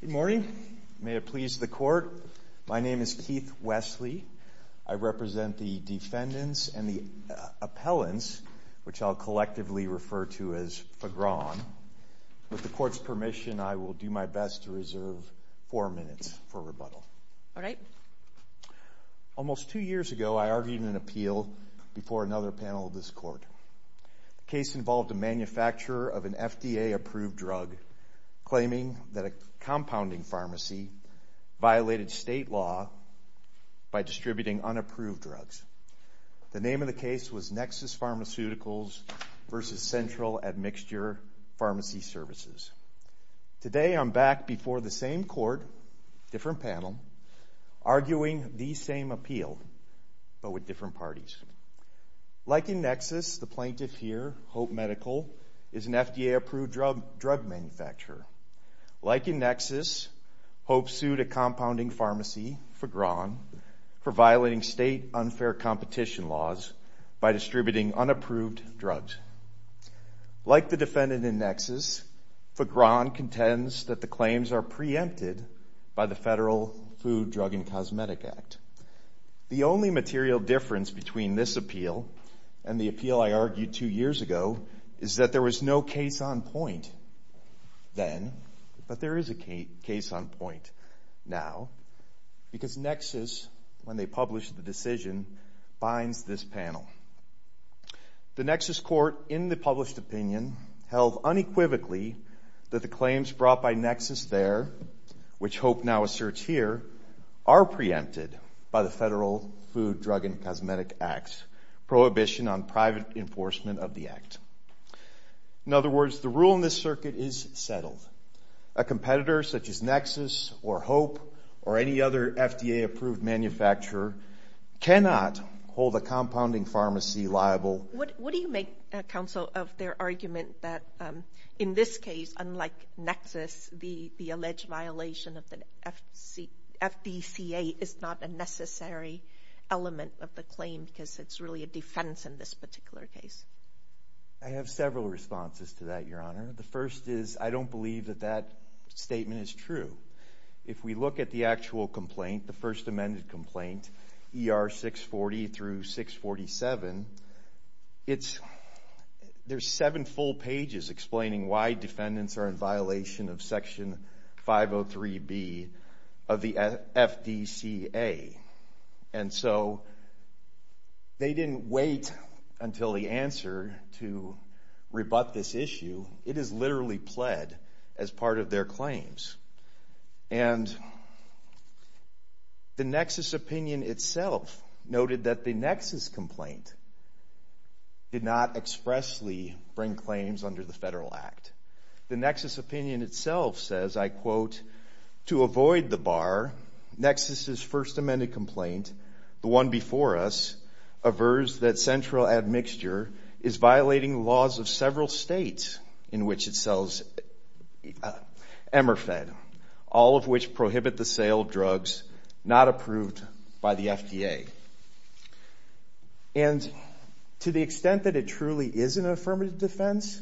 Good morning. May it please the Court, my name is Keith Wesley. I represent the defendants and the appellants, which I'll collectively refer to as Fagron. With the Court's permission, I will do my best to reserve four minutes for rebuttal. Almost two years ago, I argued an appeal before another panel of this Court. The case involved a manufacturer of an FDA-approved drug claiming that a compounding pharmacy violated state law by distributing unapproved drugs. The name of the case was Nexus Pharmaceuticals v. Central Admixture Pharmacy Services. Today, I'm back before the same Court, different panel, arguing the same appeal, but with different parties. Like in Nexus, the plaintiff here, Hope Medical, is an FDA-approved drug manufacturer. Like in Nexus, Hope sued a compounding pharmacy, Fagron, for violating state unfair competition laws by distributing unapproved drugs. Like the defendant in Nexus, Fagron contends that the claims are preempted by the Federal Food, Drug, and Cosmetic Act. The only material difference between this appeal and the appeal I argued two years ago is that there was no case on point then, but there is a case on point now, because Nexus, when they published the decision, binds this panel. The Nexus Court, in the published opinion, held unequivocally that the claims brought by Nexus there, which Hope now asserts here, are preempted by the Federal Food, Drug, and Cosmetic Act's prohibition on private enforcement of the act. In other words, the rule in this circuit is settled. A competitor such as Nexus or Hope or any other FDA-approved manufacturer cannot hold a compounding pharmacy liable. What do you make, Counsel, of their argument that in this case, unlike Nexus, the alleged violation of the FDCA is not a necessary element of the claim because it's really a defense in this particular case? I have several responses to that, Your Honor. The first is I don't believe that that statement is true. If we look at the actual complaint, the First Amendment complaint, ER 640 through 647, there's seven full pages explaining why defendants are in violation of Section 503B of the FDCA. And so they didn't wait until the answer to rebut this issue. It is literally pled as part of their claims. And the Nexus opinion itself noted that the Nexus complaint did not expressly bring claims under the Federal Act. The Nexus opinion itself says, I quote, to avoid the bar, Nexus's First Amendment complaint, the one before us, averts that sells Emmer-Fed, all of which prohibit the sale of drugs not approved by the FDA. And to the extent that it truly is an affirmative defense,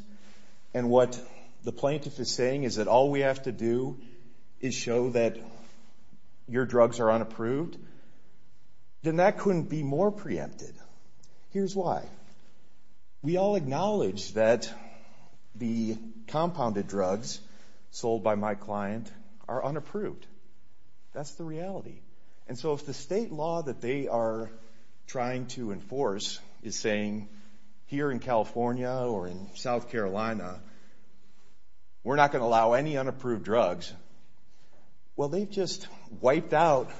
and what the plaintiff is saying is that all we have to do is show that your drugs are unapproved, then that couldn't be more preempted. Here's why. We all acknowledge that the compounded drugs sold by my client are unapproved. That's the reality. And so if the state law that they are trying to enforce is saying here in California or in South Carolina, we're not going to allow any unapproved drugs, well, they've just wiped out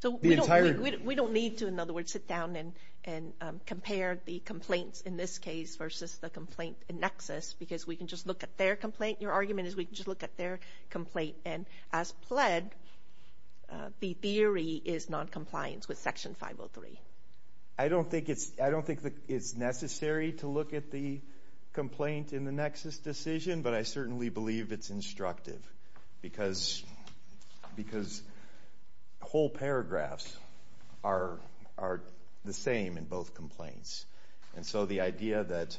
the entire... We don't need to, in other words, sit down and compare the complaints in this case versus the complaint in Nexus, because we can just look at their complaint. Your argument is we can just look at their complaint. And as pled, the theory is noncompliance with Section 503. I don't think it's necessary to look at the complaint in the Nexus decision, but I certainly believe it's instructive, because whole paragraphs are the same in both complaints. And so the idea that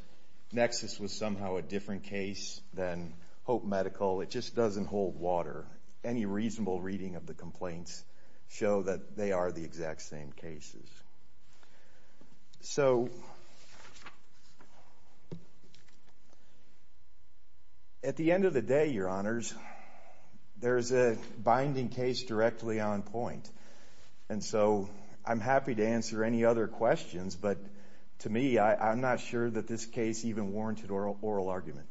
Nexus was somehow a different case than Hope Medical, it just doesn't hold water. Any reasonable reading of the complaints show that they are the exact same cases. So at the end of the day, Your Honors, there's a binding case directly on point. And so I'm happy to answer any other questions, but to me, I'm not sure that this case even warranted oral argument.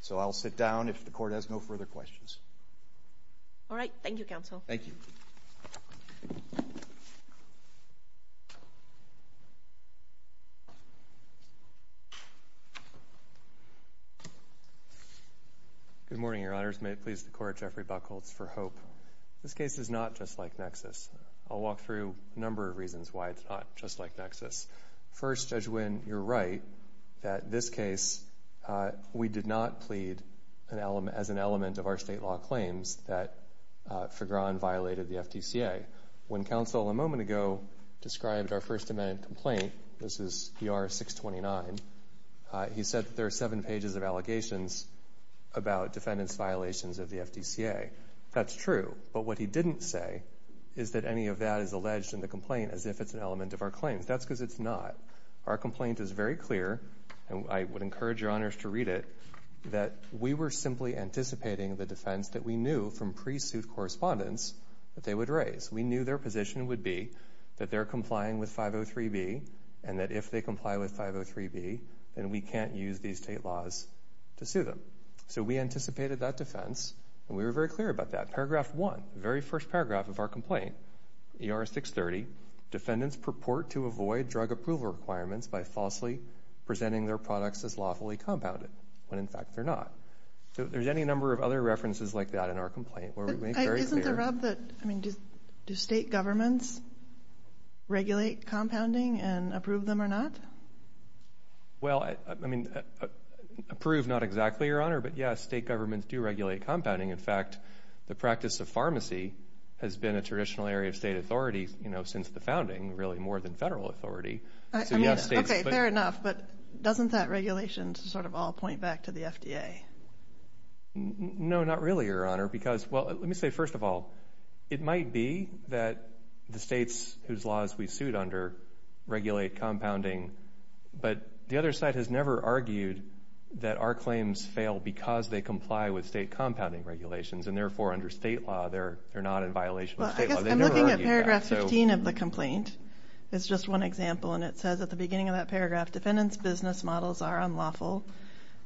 So I'll sit down if the court has no further questions. All right. Thank you, Counsel. Thank you. Good morning, Your Honors. May it please the Court, Jeffrey Buchholz for Hope. This case is not just like Nexus. I'll walk through a number of reasons why it's not just like Nexus. First, Judge Nguyen, you're right that in this case, we did not plead as an element of our state law claims that Fegran violated the FDCA. When Counsel a moment ago described our First Amendment complaint, this is ER 629, he said that there are seven pages of allegations about defendant's violations of the FDCA. That's true. But what he didn't say is that any of that is alleged in the complaint as if it's an element of our claims. That's because it's not. Our complaint is very clear, and I would encourage Your Honors to read it, that we were simply anticipating the defense that we knew from pre-suit correspondence that they would raise. We knew their position would be that they're complying with 503B, and that if they comply with 503B, then we can't use these state laws to sue them. So we anticipated that defense, and we were very clear about that. Paragraph one, very first paragraph of our complaint, ER 630, defendants purport to avoid drug approval requirements by falsely presenting their products as lawfully compounded, when in fact they're not. So there's any number of other references like that in our complaint where we make very clear... Isn't the rub that, I mean, do state governments regulate compounding and approve them or not? Well, I mean, approve not exactly, Your Honor, but yes, state governments do regulate compounding. In fact, the practice of pharmacy has been a traditional area of state authority, you know, since the founding, really more than federal authority. Okay, fair enough, but doesn't that regulation sort of all point back to the FDA? No, not really, Your Honor, because, well, let me say, first of all, it might be that the states whose laws we sued under regulate compounding, but the other side has never argued that our claims fail because they comply with state compounding regulations, and therefore, under state law, they're not in violation of state law. Well, I guess I'm looking at paragraph 15 of the complaint. It's just one example, and it says at the beginning of that paragraph, defendants' business models are unlawful.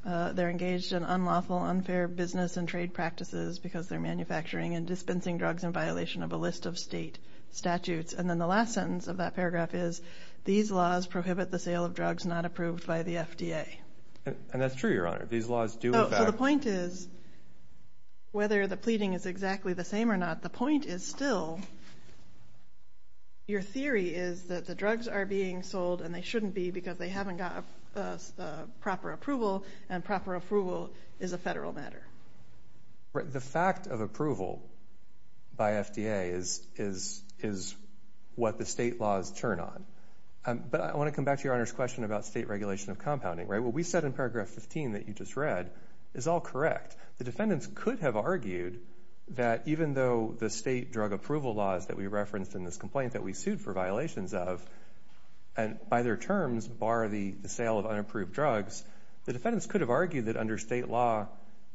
They're engaged in unlawful, unfair business and trade practices because they're manufacturing and dispensing drugs in violation of a list of state statutes. And then the last sentence of that paragraph is, these laws prohibit the sale of drugs not approved by the FDA. And that's true, Your Honor. These laws do affect... So the point is, whether the pleading is exactly the same or not, the point is still, your theory is that the drugs are being sold, and they shouldn't be because they haven't got proper approval, and proper approval is a federal matter. The fact of approval by FDA is what the state laws turn on. But I want to come back to Your Honor's question about state regulation of compounding. What we said in paragraph 15 that you just read is all correct. The defendants could have argued that even though the state drug approval laws that we referenced in this complaint that we sued for violations of, and by their terms bar the sale of unapproved drugs, the defendants could have argued that under state law,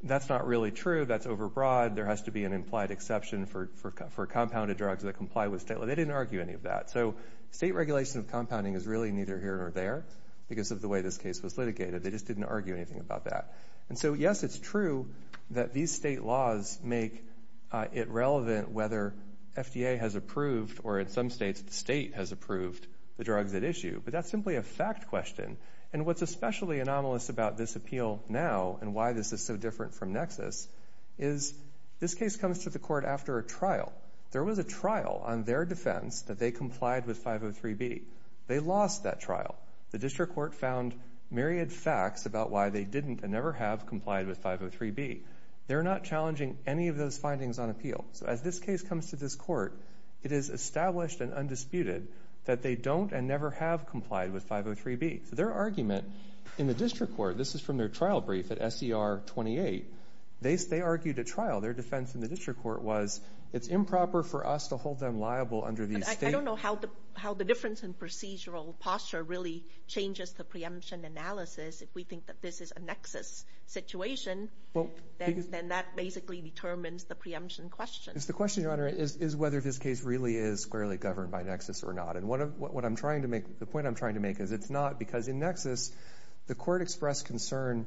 that's not really true, that's overbroad, there has to be an implied exception for compounded drugs that comply with state law. They didn't argue any of that. So state regulation of compounding is really neither here nor there because of the way this case was litigated. They just didn't argue anything about that. And so, yes, it's true that these state laws make it relevant whether FDA has approved or in some states the state has approved the drugs at issue, but that's simply a fact question. And what's especially anomalous about this appeal now and why this is so different from Nexus is this case comes to the court after a trial. There was a trial on their defense that they complied with 503B. They lost that trial. The district court found myriad facts about why they didn't and never have complied with 503B. They're not challenging any of those findings on appeal. So as this case comes to this court, it is established and undisputed that they don't and never have complied with 503B. So their argument in the district court, this is from their trial brief at SER 28, they argued at trial. Their defense in the district court was it's improper for us to hold them liable under these states. I don't know how the difference in procedural posture really changes the preemption analysis. If we think that this is a Nexus situation, then that basically determines the preemption question. The question, Your Honor, is whether this case really is squarely governed by Nexus or not. And what I'm trying to make, the point I'm trying to make is it's not because in Nexus, the court expressed concern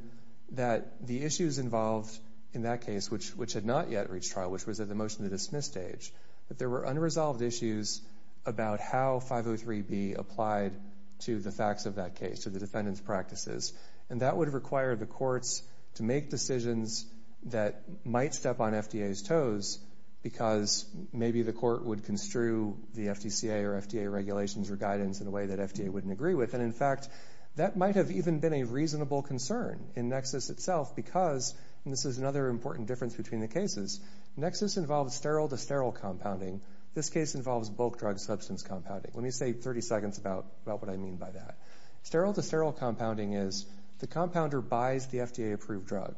that the issues involved in that case, which had not yet reached trial, which was at the motion to dismiss stage, that there were unresolved issues about how 503B applied to the facts of that case, to the defendant's practices. And that would require the courts to make decisions that might step on FDA's toes because maybe the court would construe the FDCA or FDA regulations or guidance in a way that FDA wouldn't agree with. And, in fact, that might have even been a reasonable concern in Nexus itself because, and this is another important difference between the cases, Nexus involves sterile-to-sterile compounding. This case involves bulk drug substance compounding. Let me say 30 seconds about what I mean by that. Sterile-to-sterile compounding is the compounder buys the FDA-approved drug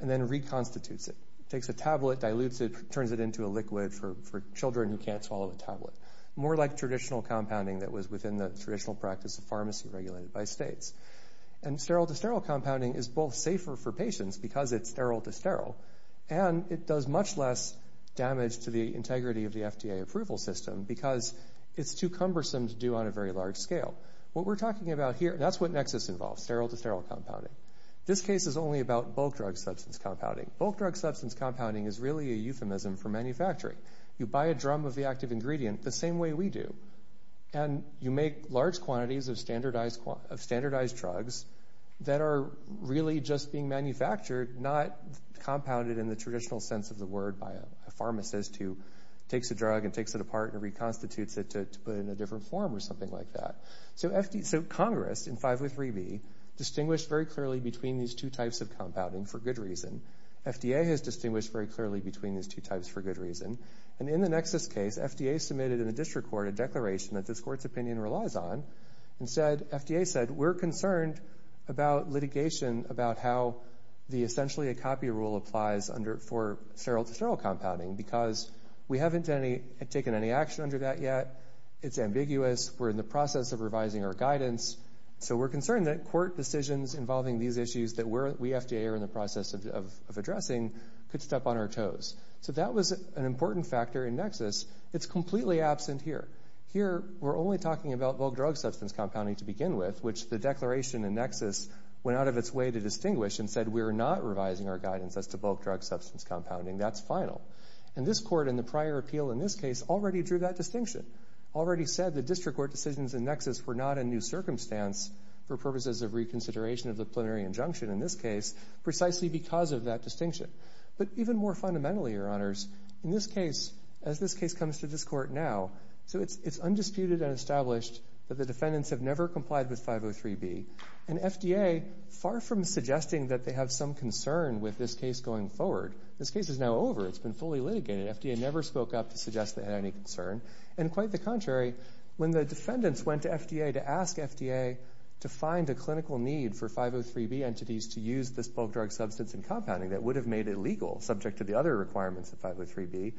and then reconstitutes it, takes a tablet, dilutes it, turns it into a liquid for children who can't swallow the tablet. More like traditional compounding that was within the traditional practice of pharmacy regulated by states. And sterile-to-sterile compounding is both safer for patients because it's sterile-to-sterile and it does much less damage to the integrity of the FDA approval system because it's too cumbersome to do on a very large scale. What we're talking about here, that's what Nexus involves, sterile-to-sterile compounding. This case is only about bulk drug substance compounding. Bulk drug substance compounding is really a euphemism for manufacturing. You buy a drum of the active ingredient the same way we do. And you make large quantities of standardized drugs that are really just being manufactured, not compounded in the traditional sense of the word by a pharmacist who takes a drug and takes it apart and reconstitutes it to put it in a different form or something like that. So Congress in 503B distinguished very clearly between these two types of compounding for good reason. FDA has distinguished very clearly between these two types for good reason. And in the Nexus case, FDA submitted in the district court a declaration that this court's opinion relies on. Instead, FDA said, we're concerned about litigation about how the essentially a copy rule applies for sterile-to-sterile compounding because we haven't taken any action under that yet. It's ambiguous. We're in the process of revising our guidance. So we're concerned that court decisions involving these issues that we FDA are in the process of addressing could step on our toes. So that was an important factor in Nexus. It's completely absent here. Here, we're only talking about bulk drug substance compounding to begin with, which the declaration in Nexus went out of its way to distinguish and said, we're not revising our guidance as to bulk drug substance compounding. That's final. And this court in the prior appeal in this case already drew that distinction, already said the district court decisions in Nexus were not a new circumstance for purposes of reconsideration of the preliminary injunction in this case, precisely because of that distinction. But even more fundamentally, Your Honors, in this case, as this case comes to this court now, so it's undisputed and established that the defendants have never complied with 503B. And FDA, far from suggesting that they have some concern with this case going forward, this case is now over. It's been fully litigated. FDA never spoke up to suggest they had any concern. And quite the contrary, when the defendants went to FDA to ask FDA to find a clinical need for 503B entities to use this bulk drug substance in compounding that would have made it legal, subject to the other requirements of 503B,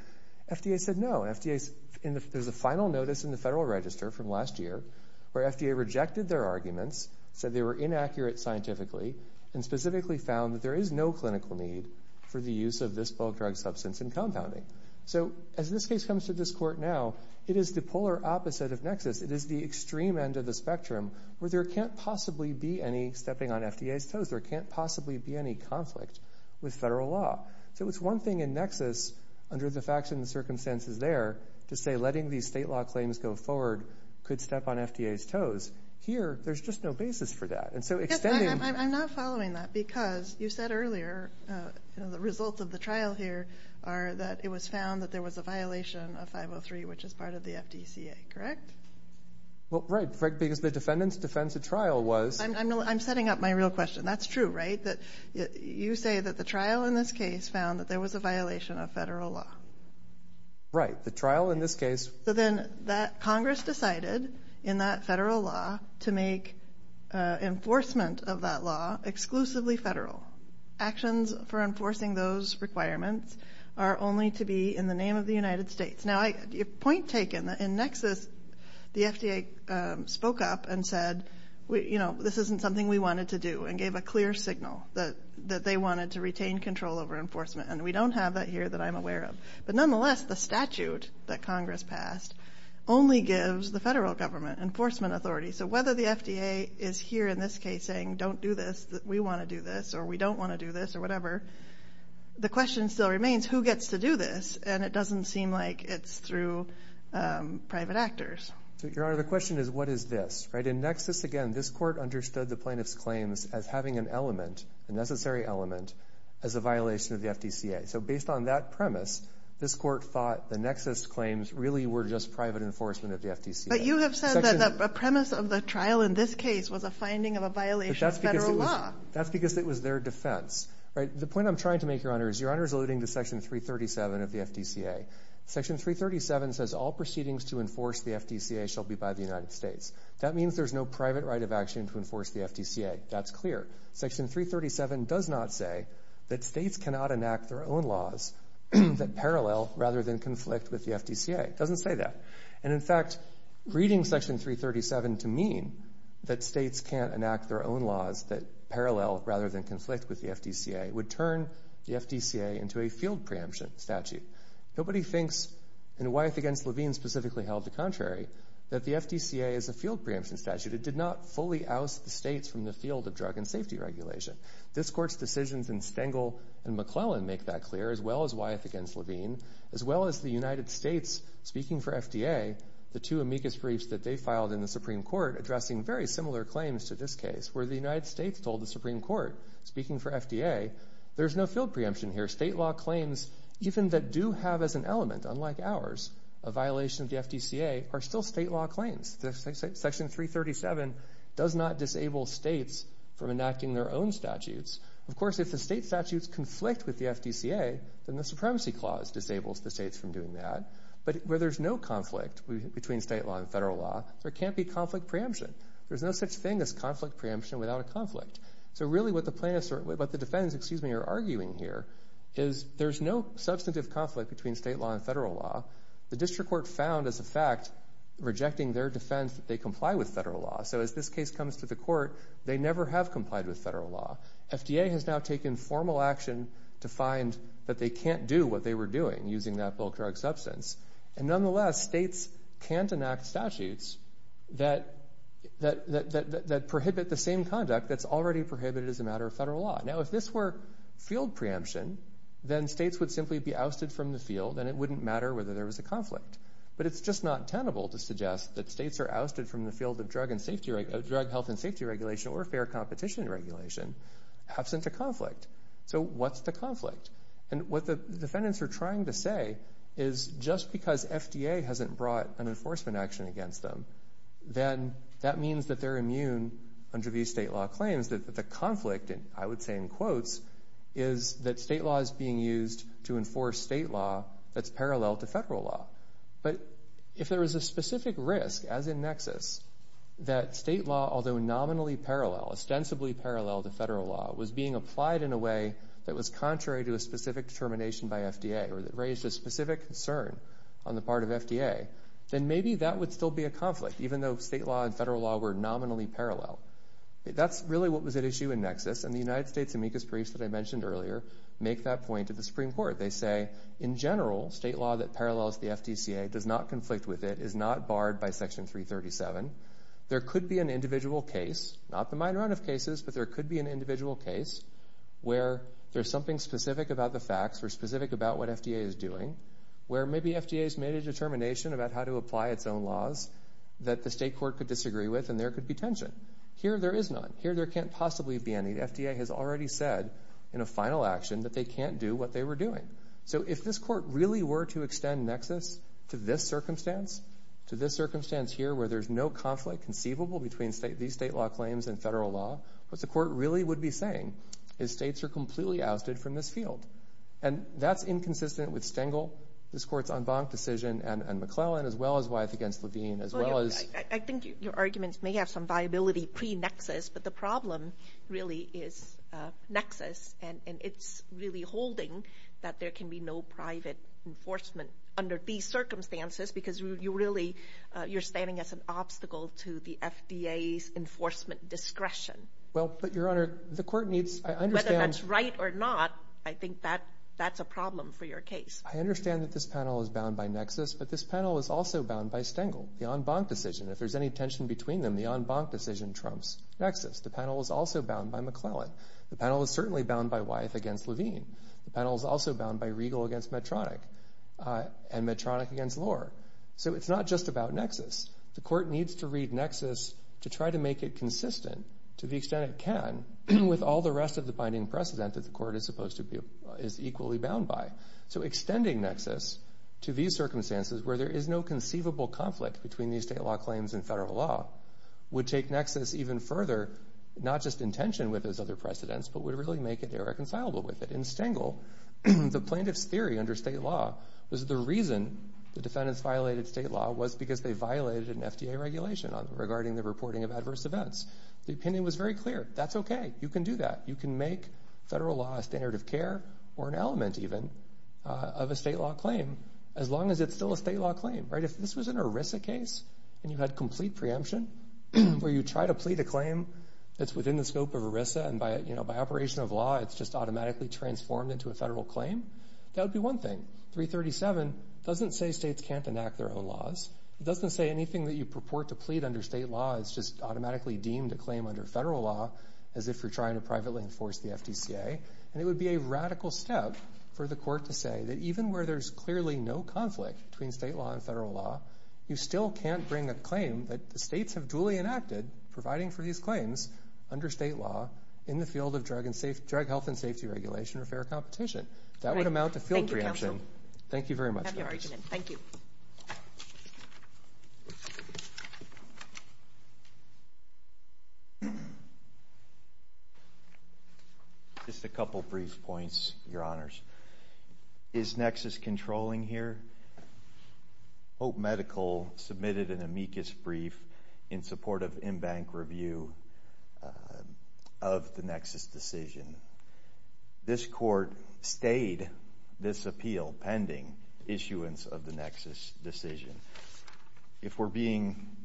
FDA said no. There's a final notice in the Federal Register from last year where FDA rejected their arguments, said they were inaccurate scientifically, and specifically found that there is no clinical need for the use of this bulk drug substance in compounding. So as this case comes to this court now, it is the polar opposite of NEXIS. It is the extreme end of the spectrum where there can't possibly be any stepping on FDA's toes. There can't possibly be any conflict with federal law. So it's one thing in NEXIS, under the facts and the circumstances there, to say letting these state law claims go forward could step on FDA's toes. Here, there's just no basis for that. And so extending... I'm not following that because you said earlier the results of the trial here are that it was found that there was a violation of 503, which is part of the FDCA, correct? Well, right, because the defendant's defense at trial was... I'm setting up my real question. That's true, right? You say that the trial in this case found that there was a violation of federal law. Right. The trial in this case... So then Congress decided in that federal law to make enforcement of that law exclusively federal. Actions for enforcing those requirements are only to be in the name of the United States. Now, point taken, in NEXIS, the FDA spoke up and said, you know, this isn't something we wanted to do and gave a clear signal that they wanted to retain control over enforcement. And we don't have that here that I'm aware of. But nonetheless, the statute that Congress passed only gives the federal government enforcement authority. So whether the FDA is here in this case saying, don't do this, we want to do this, or we don't want to do this, or whatever, the question still remains, who gets to do this? And it doesn't seem like it's through private actors. Your Honor, the question is, what is this? In NEXIS, again, this court understood the plaintiff's claims as having an element, a necessary element, as a violation of the FDCA. So based on that premise, this court thought the NEXIS claims really were just private enforcement of the FDCA. But you have said that the premise of the trial in this case was a finding of a violation of federal law. That's because it was their defense. The point I'm trying to make, Your Honor, is Your Honor is alluding to Section 337 of the FDCA. Section 337 says all proceedings to enforce the FDCA shall be by the United States. That means there's no private right of action to enforce the FDCA. That's clear. Section 337 does not say that states cannot enact their own laws that parallel rather than conflict with the FDCA. It doesn't say that. And, in fact, reading Section 337 to mean that states can't enact their own laws that parallel rather than conflict with the FDCA would turn the FDCA into a field preemption statute. Nobody thinks, and Wyeth v. Levine specifically held the contrary, that the FDCA is a field preemption statute. It did not fully oust the states from the field of drug and safety regulation. This Court's decisions in Stengel and McClellan make that clear, as well as Wyeth v. Levine, as well as the United States speaking for FDA, the two amicus briefs that they filed in the Supreme Court addressing very similar claims to this case, where the United States told the Supreme Court, speaking for FDA, there's no field preemption here. State law claims, even that do have as an element, unlike ours, a violation of the FDCA, are still state law claims. Section 337 does not disable states from enacting their own statutes. Of course, if the state statutes conflict with the FDCA, then the Supremacy Clause disables the states from doing that. But where there's no conflict between state law and federal law, there can't be conflict preemption. There's no such thing as conflict preemption without a conflict. So, really, what the defendants are arguing here is there's no substantive conflict between state law and federal law. The district court found, as a fact, rejecting their defense that they comply with federal law. So as this case comes to the court, they never have complied with federal law. FDA has now taken formal action to find that they can't do what they were doing, using that bulk drug substance. And nonetheless, states can't enact statutes that prohibit the same conduct that's already prohibited as a matter of federal law. Now, if this were field preemption, then states would simply be ousted from the field, and it wouldn't matter whether there was a conflict. But it's just not tenable to suggest that states are ousted from the field of drug health and safety regulation or fair competition regulation absent a conflict. So what's the conflict? And what the defendants are trying to say is just because FDA hasn't brought an enforcement action against them, then that means that they're immune under these state law claims that the conflict, and I would say in quotes, is that state law is being used to enforce state law that's parallel to federal law. But if there was a specific risk, as in Nexus, that state law, although nominally parallel, ostensibly parallel to federal law, was being applied in a way that was contrary to a specific determination by FDA or that raised a specific concern on the part of FDA, then maybe that would still be a conflict, even though state law and federal law were nominally parallel. That's really what was at issue in Nexus. And the United States amicus briefs that I mentioned earlier make that point to the Supreme Court. They say, in general, state law that parallels the FDCA does not conflict with it, is not barred by Section 337. There could be an individual case, not the minority of cases, but there could be an individual case where there's something specific about the facts or specific about what FDA is doing, where maybe FDA has made a determination about how to apply its own laws that the state court could disagree with, and there could be tension. Here, there is none. Here, there can't possibly be any. The FDA has already said in a final action that they can't do what they were doing. So if this Court really were to extend Nexus to this circumstance, to this circumstance here, where there's no conflict conceivable between these state law claims and federal law, what the Court really would be saying is states are completely ousted from this field. And that's inconsistent with Stengel, this Court's en banc decision, and McClellan, as well as Wyeth against Levine, as well as I think your arguments may have some viability pre-Nexus, but the problem really is Nexus, and it's really holding that there can be no private enforcement under these circumstances because you're standing as an obstacle to the FDA's enforcement discretion. Well, but, Your Honor, the Court needs Whether that's right or not, I think that's a problem for your case. I understand that this panel is bound by Nexus, but this panel is also bound by Stengel. The en banc decision, if there's any tension between them, the en banc decision trumps Nexus. The panel is also bound by McClellan. The panel is certainly bound by Wyeth against Levine. The panel is also bound by Riegel against Medtronic and Medtronic against Lohr. So it's not just about Nexus. The Court needs to read Nexus to try to make it consistent to the extent it can with all the rest of the binding precedent that the Court is supposed to be equally bound by. So extending Nexus to these circumstances, where there is no conceivable conflict between these state law claims and federal law, would take Nexus even further, not just in tension with those other precedents, but would really make it irreconcilable with it. In Stengel, the plaintiff's theory under state law was the reason the defendants violated state law was because they violated an FDA regulation regarding the reporting of adverse events. The opinion was very clear. That's okay. You can do that. You can make federal law a standard of care, or an element even, of a state law claim, as long as it's still a state law claim. If this was an ERISA case and you had complete preemption, where you try to plead a claim that's within the scope of ERISA, and by operation of law it's just automatically transformed into a federal claim, that would be one thing. 337 doesn't say states can't enact their own laws. It doesn't say anything that you purport to plead under state law is just automatically deemed a claim under federal law, as if you're trying to privately enforce the FDCA. And it would be a radical step for the court to say that even where there's clearly no conflict between state law and federal law, you still can't bring a claim that the states have duly enacted, providing for these claims under state law, in the field of drug health and safety regulation or fair competition. That would amount to field preemption. Thank you, counsel. Thank you very much. I appreciate your argument. Thank you. Just a couple of brief points, Your Honors. Is nexus controlling here? Hope Medical submitted an amicus brief in support of in-bank review of the nexus decision. This court stayed this appeal pending issuance of the nexus decision. If we're being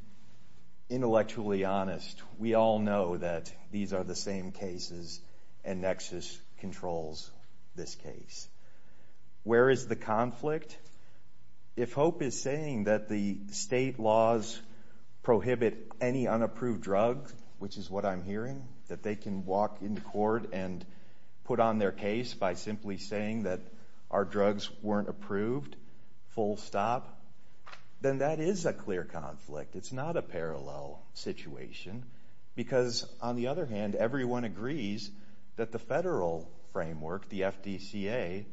intellectually honest, we all know that these are the same cases and nexus controls this case. Where is the conflict? If Hope is saying that the state laws prohibit any unapproved drug, which is what I'm hearing, that they can walk into court and put on their case by simply saying that our drugs weren't approved, full stop, then that is a clear conflict. It's not a parallel situation because, on the other hand, everyone agrees that the federal framework, the FDCA,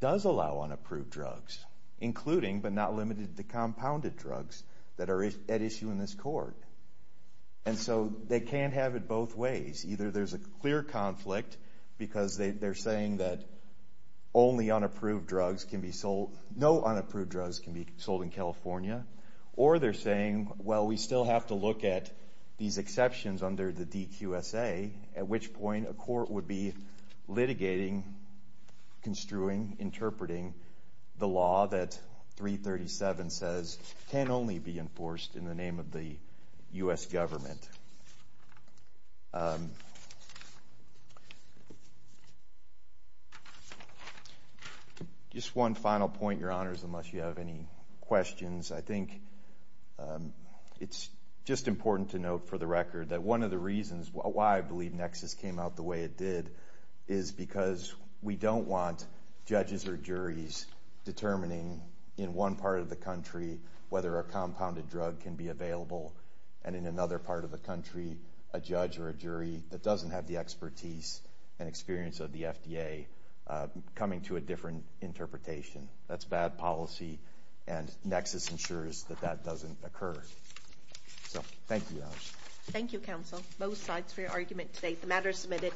does allow unapproved drugs, including but not limited to compounded drugs that are at issue in this court. And so they can't have it both ways. Either there's a clear conflict because they're saying that only unapproved drugs can be sold, no unapproved drugs can be sold in California, or they're saying, well, we still have to look at these exceptions under the DQSA, the law that 337 says can only be enforced in the name of the U.S. government. Just one final point, Your Honors, unless you have any questions. I think it's just important to note, for the record, that one of the reasons why I believe Nexus came out the way it did is because we don't want judges or juries determining in one part of the country whether a compounded drug can be available, and in another part of the country, a judge or a jury that doesn't have the expertise and experience of the FDA coming to a different interpretation. That's bad policy, and Nexus ensures that that doesn't occur. So, thank you, Your Honors. Thank you, Counsel. Both sides for your argument today. The matter is submitted.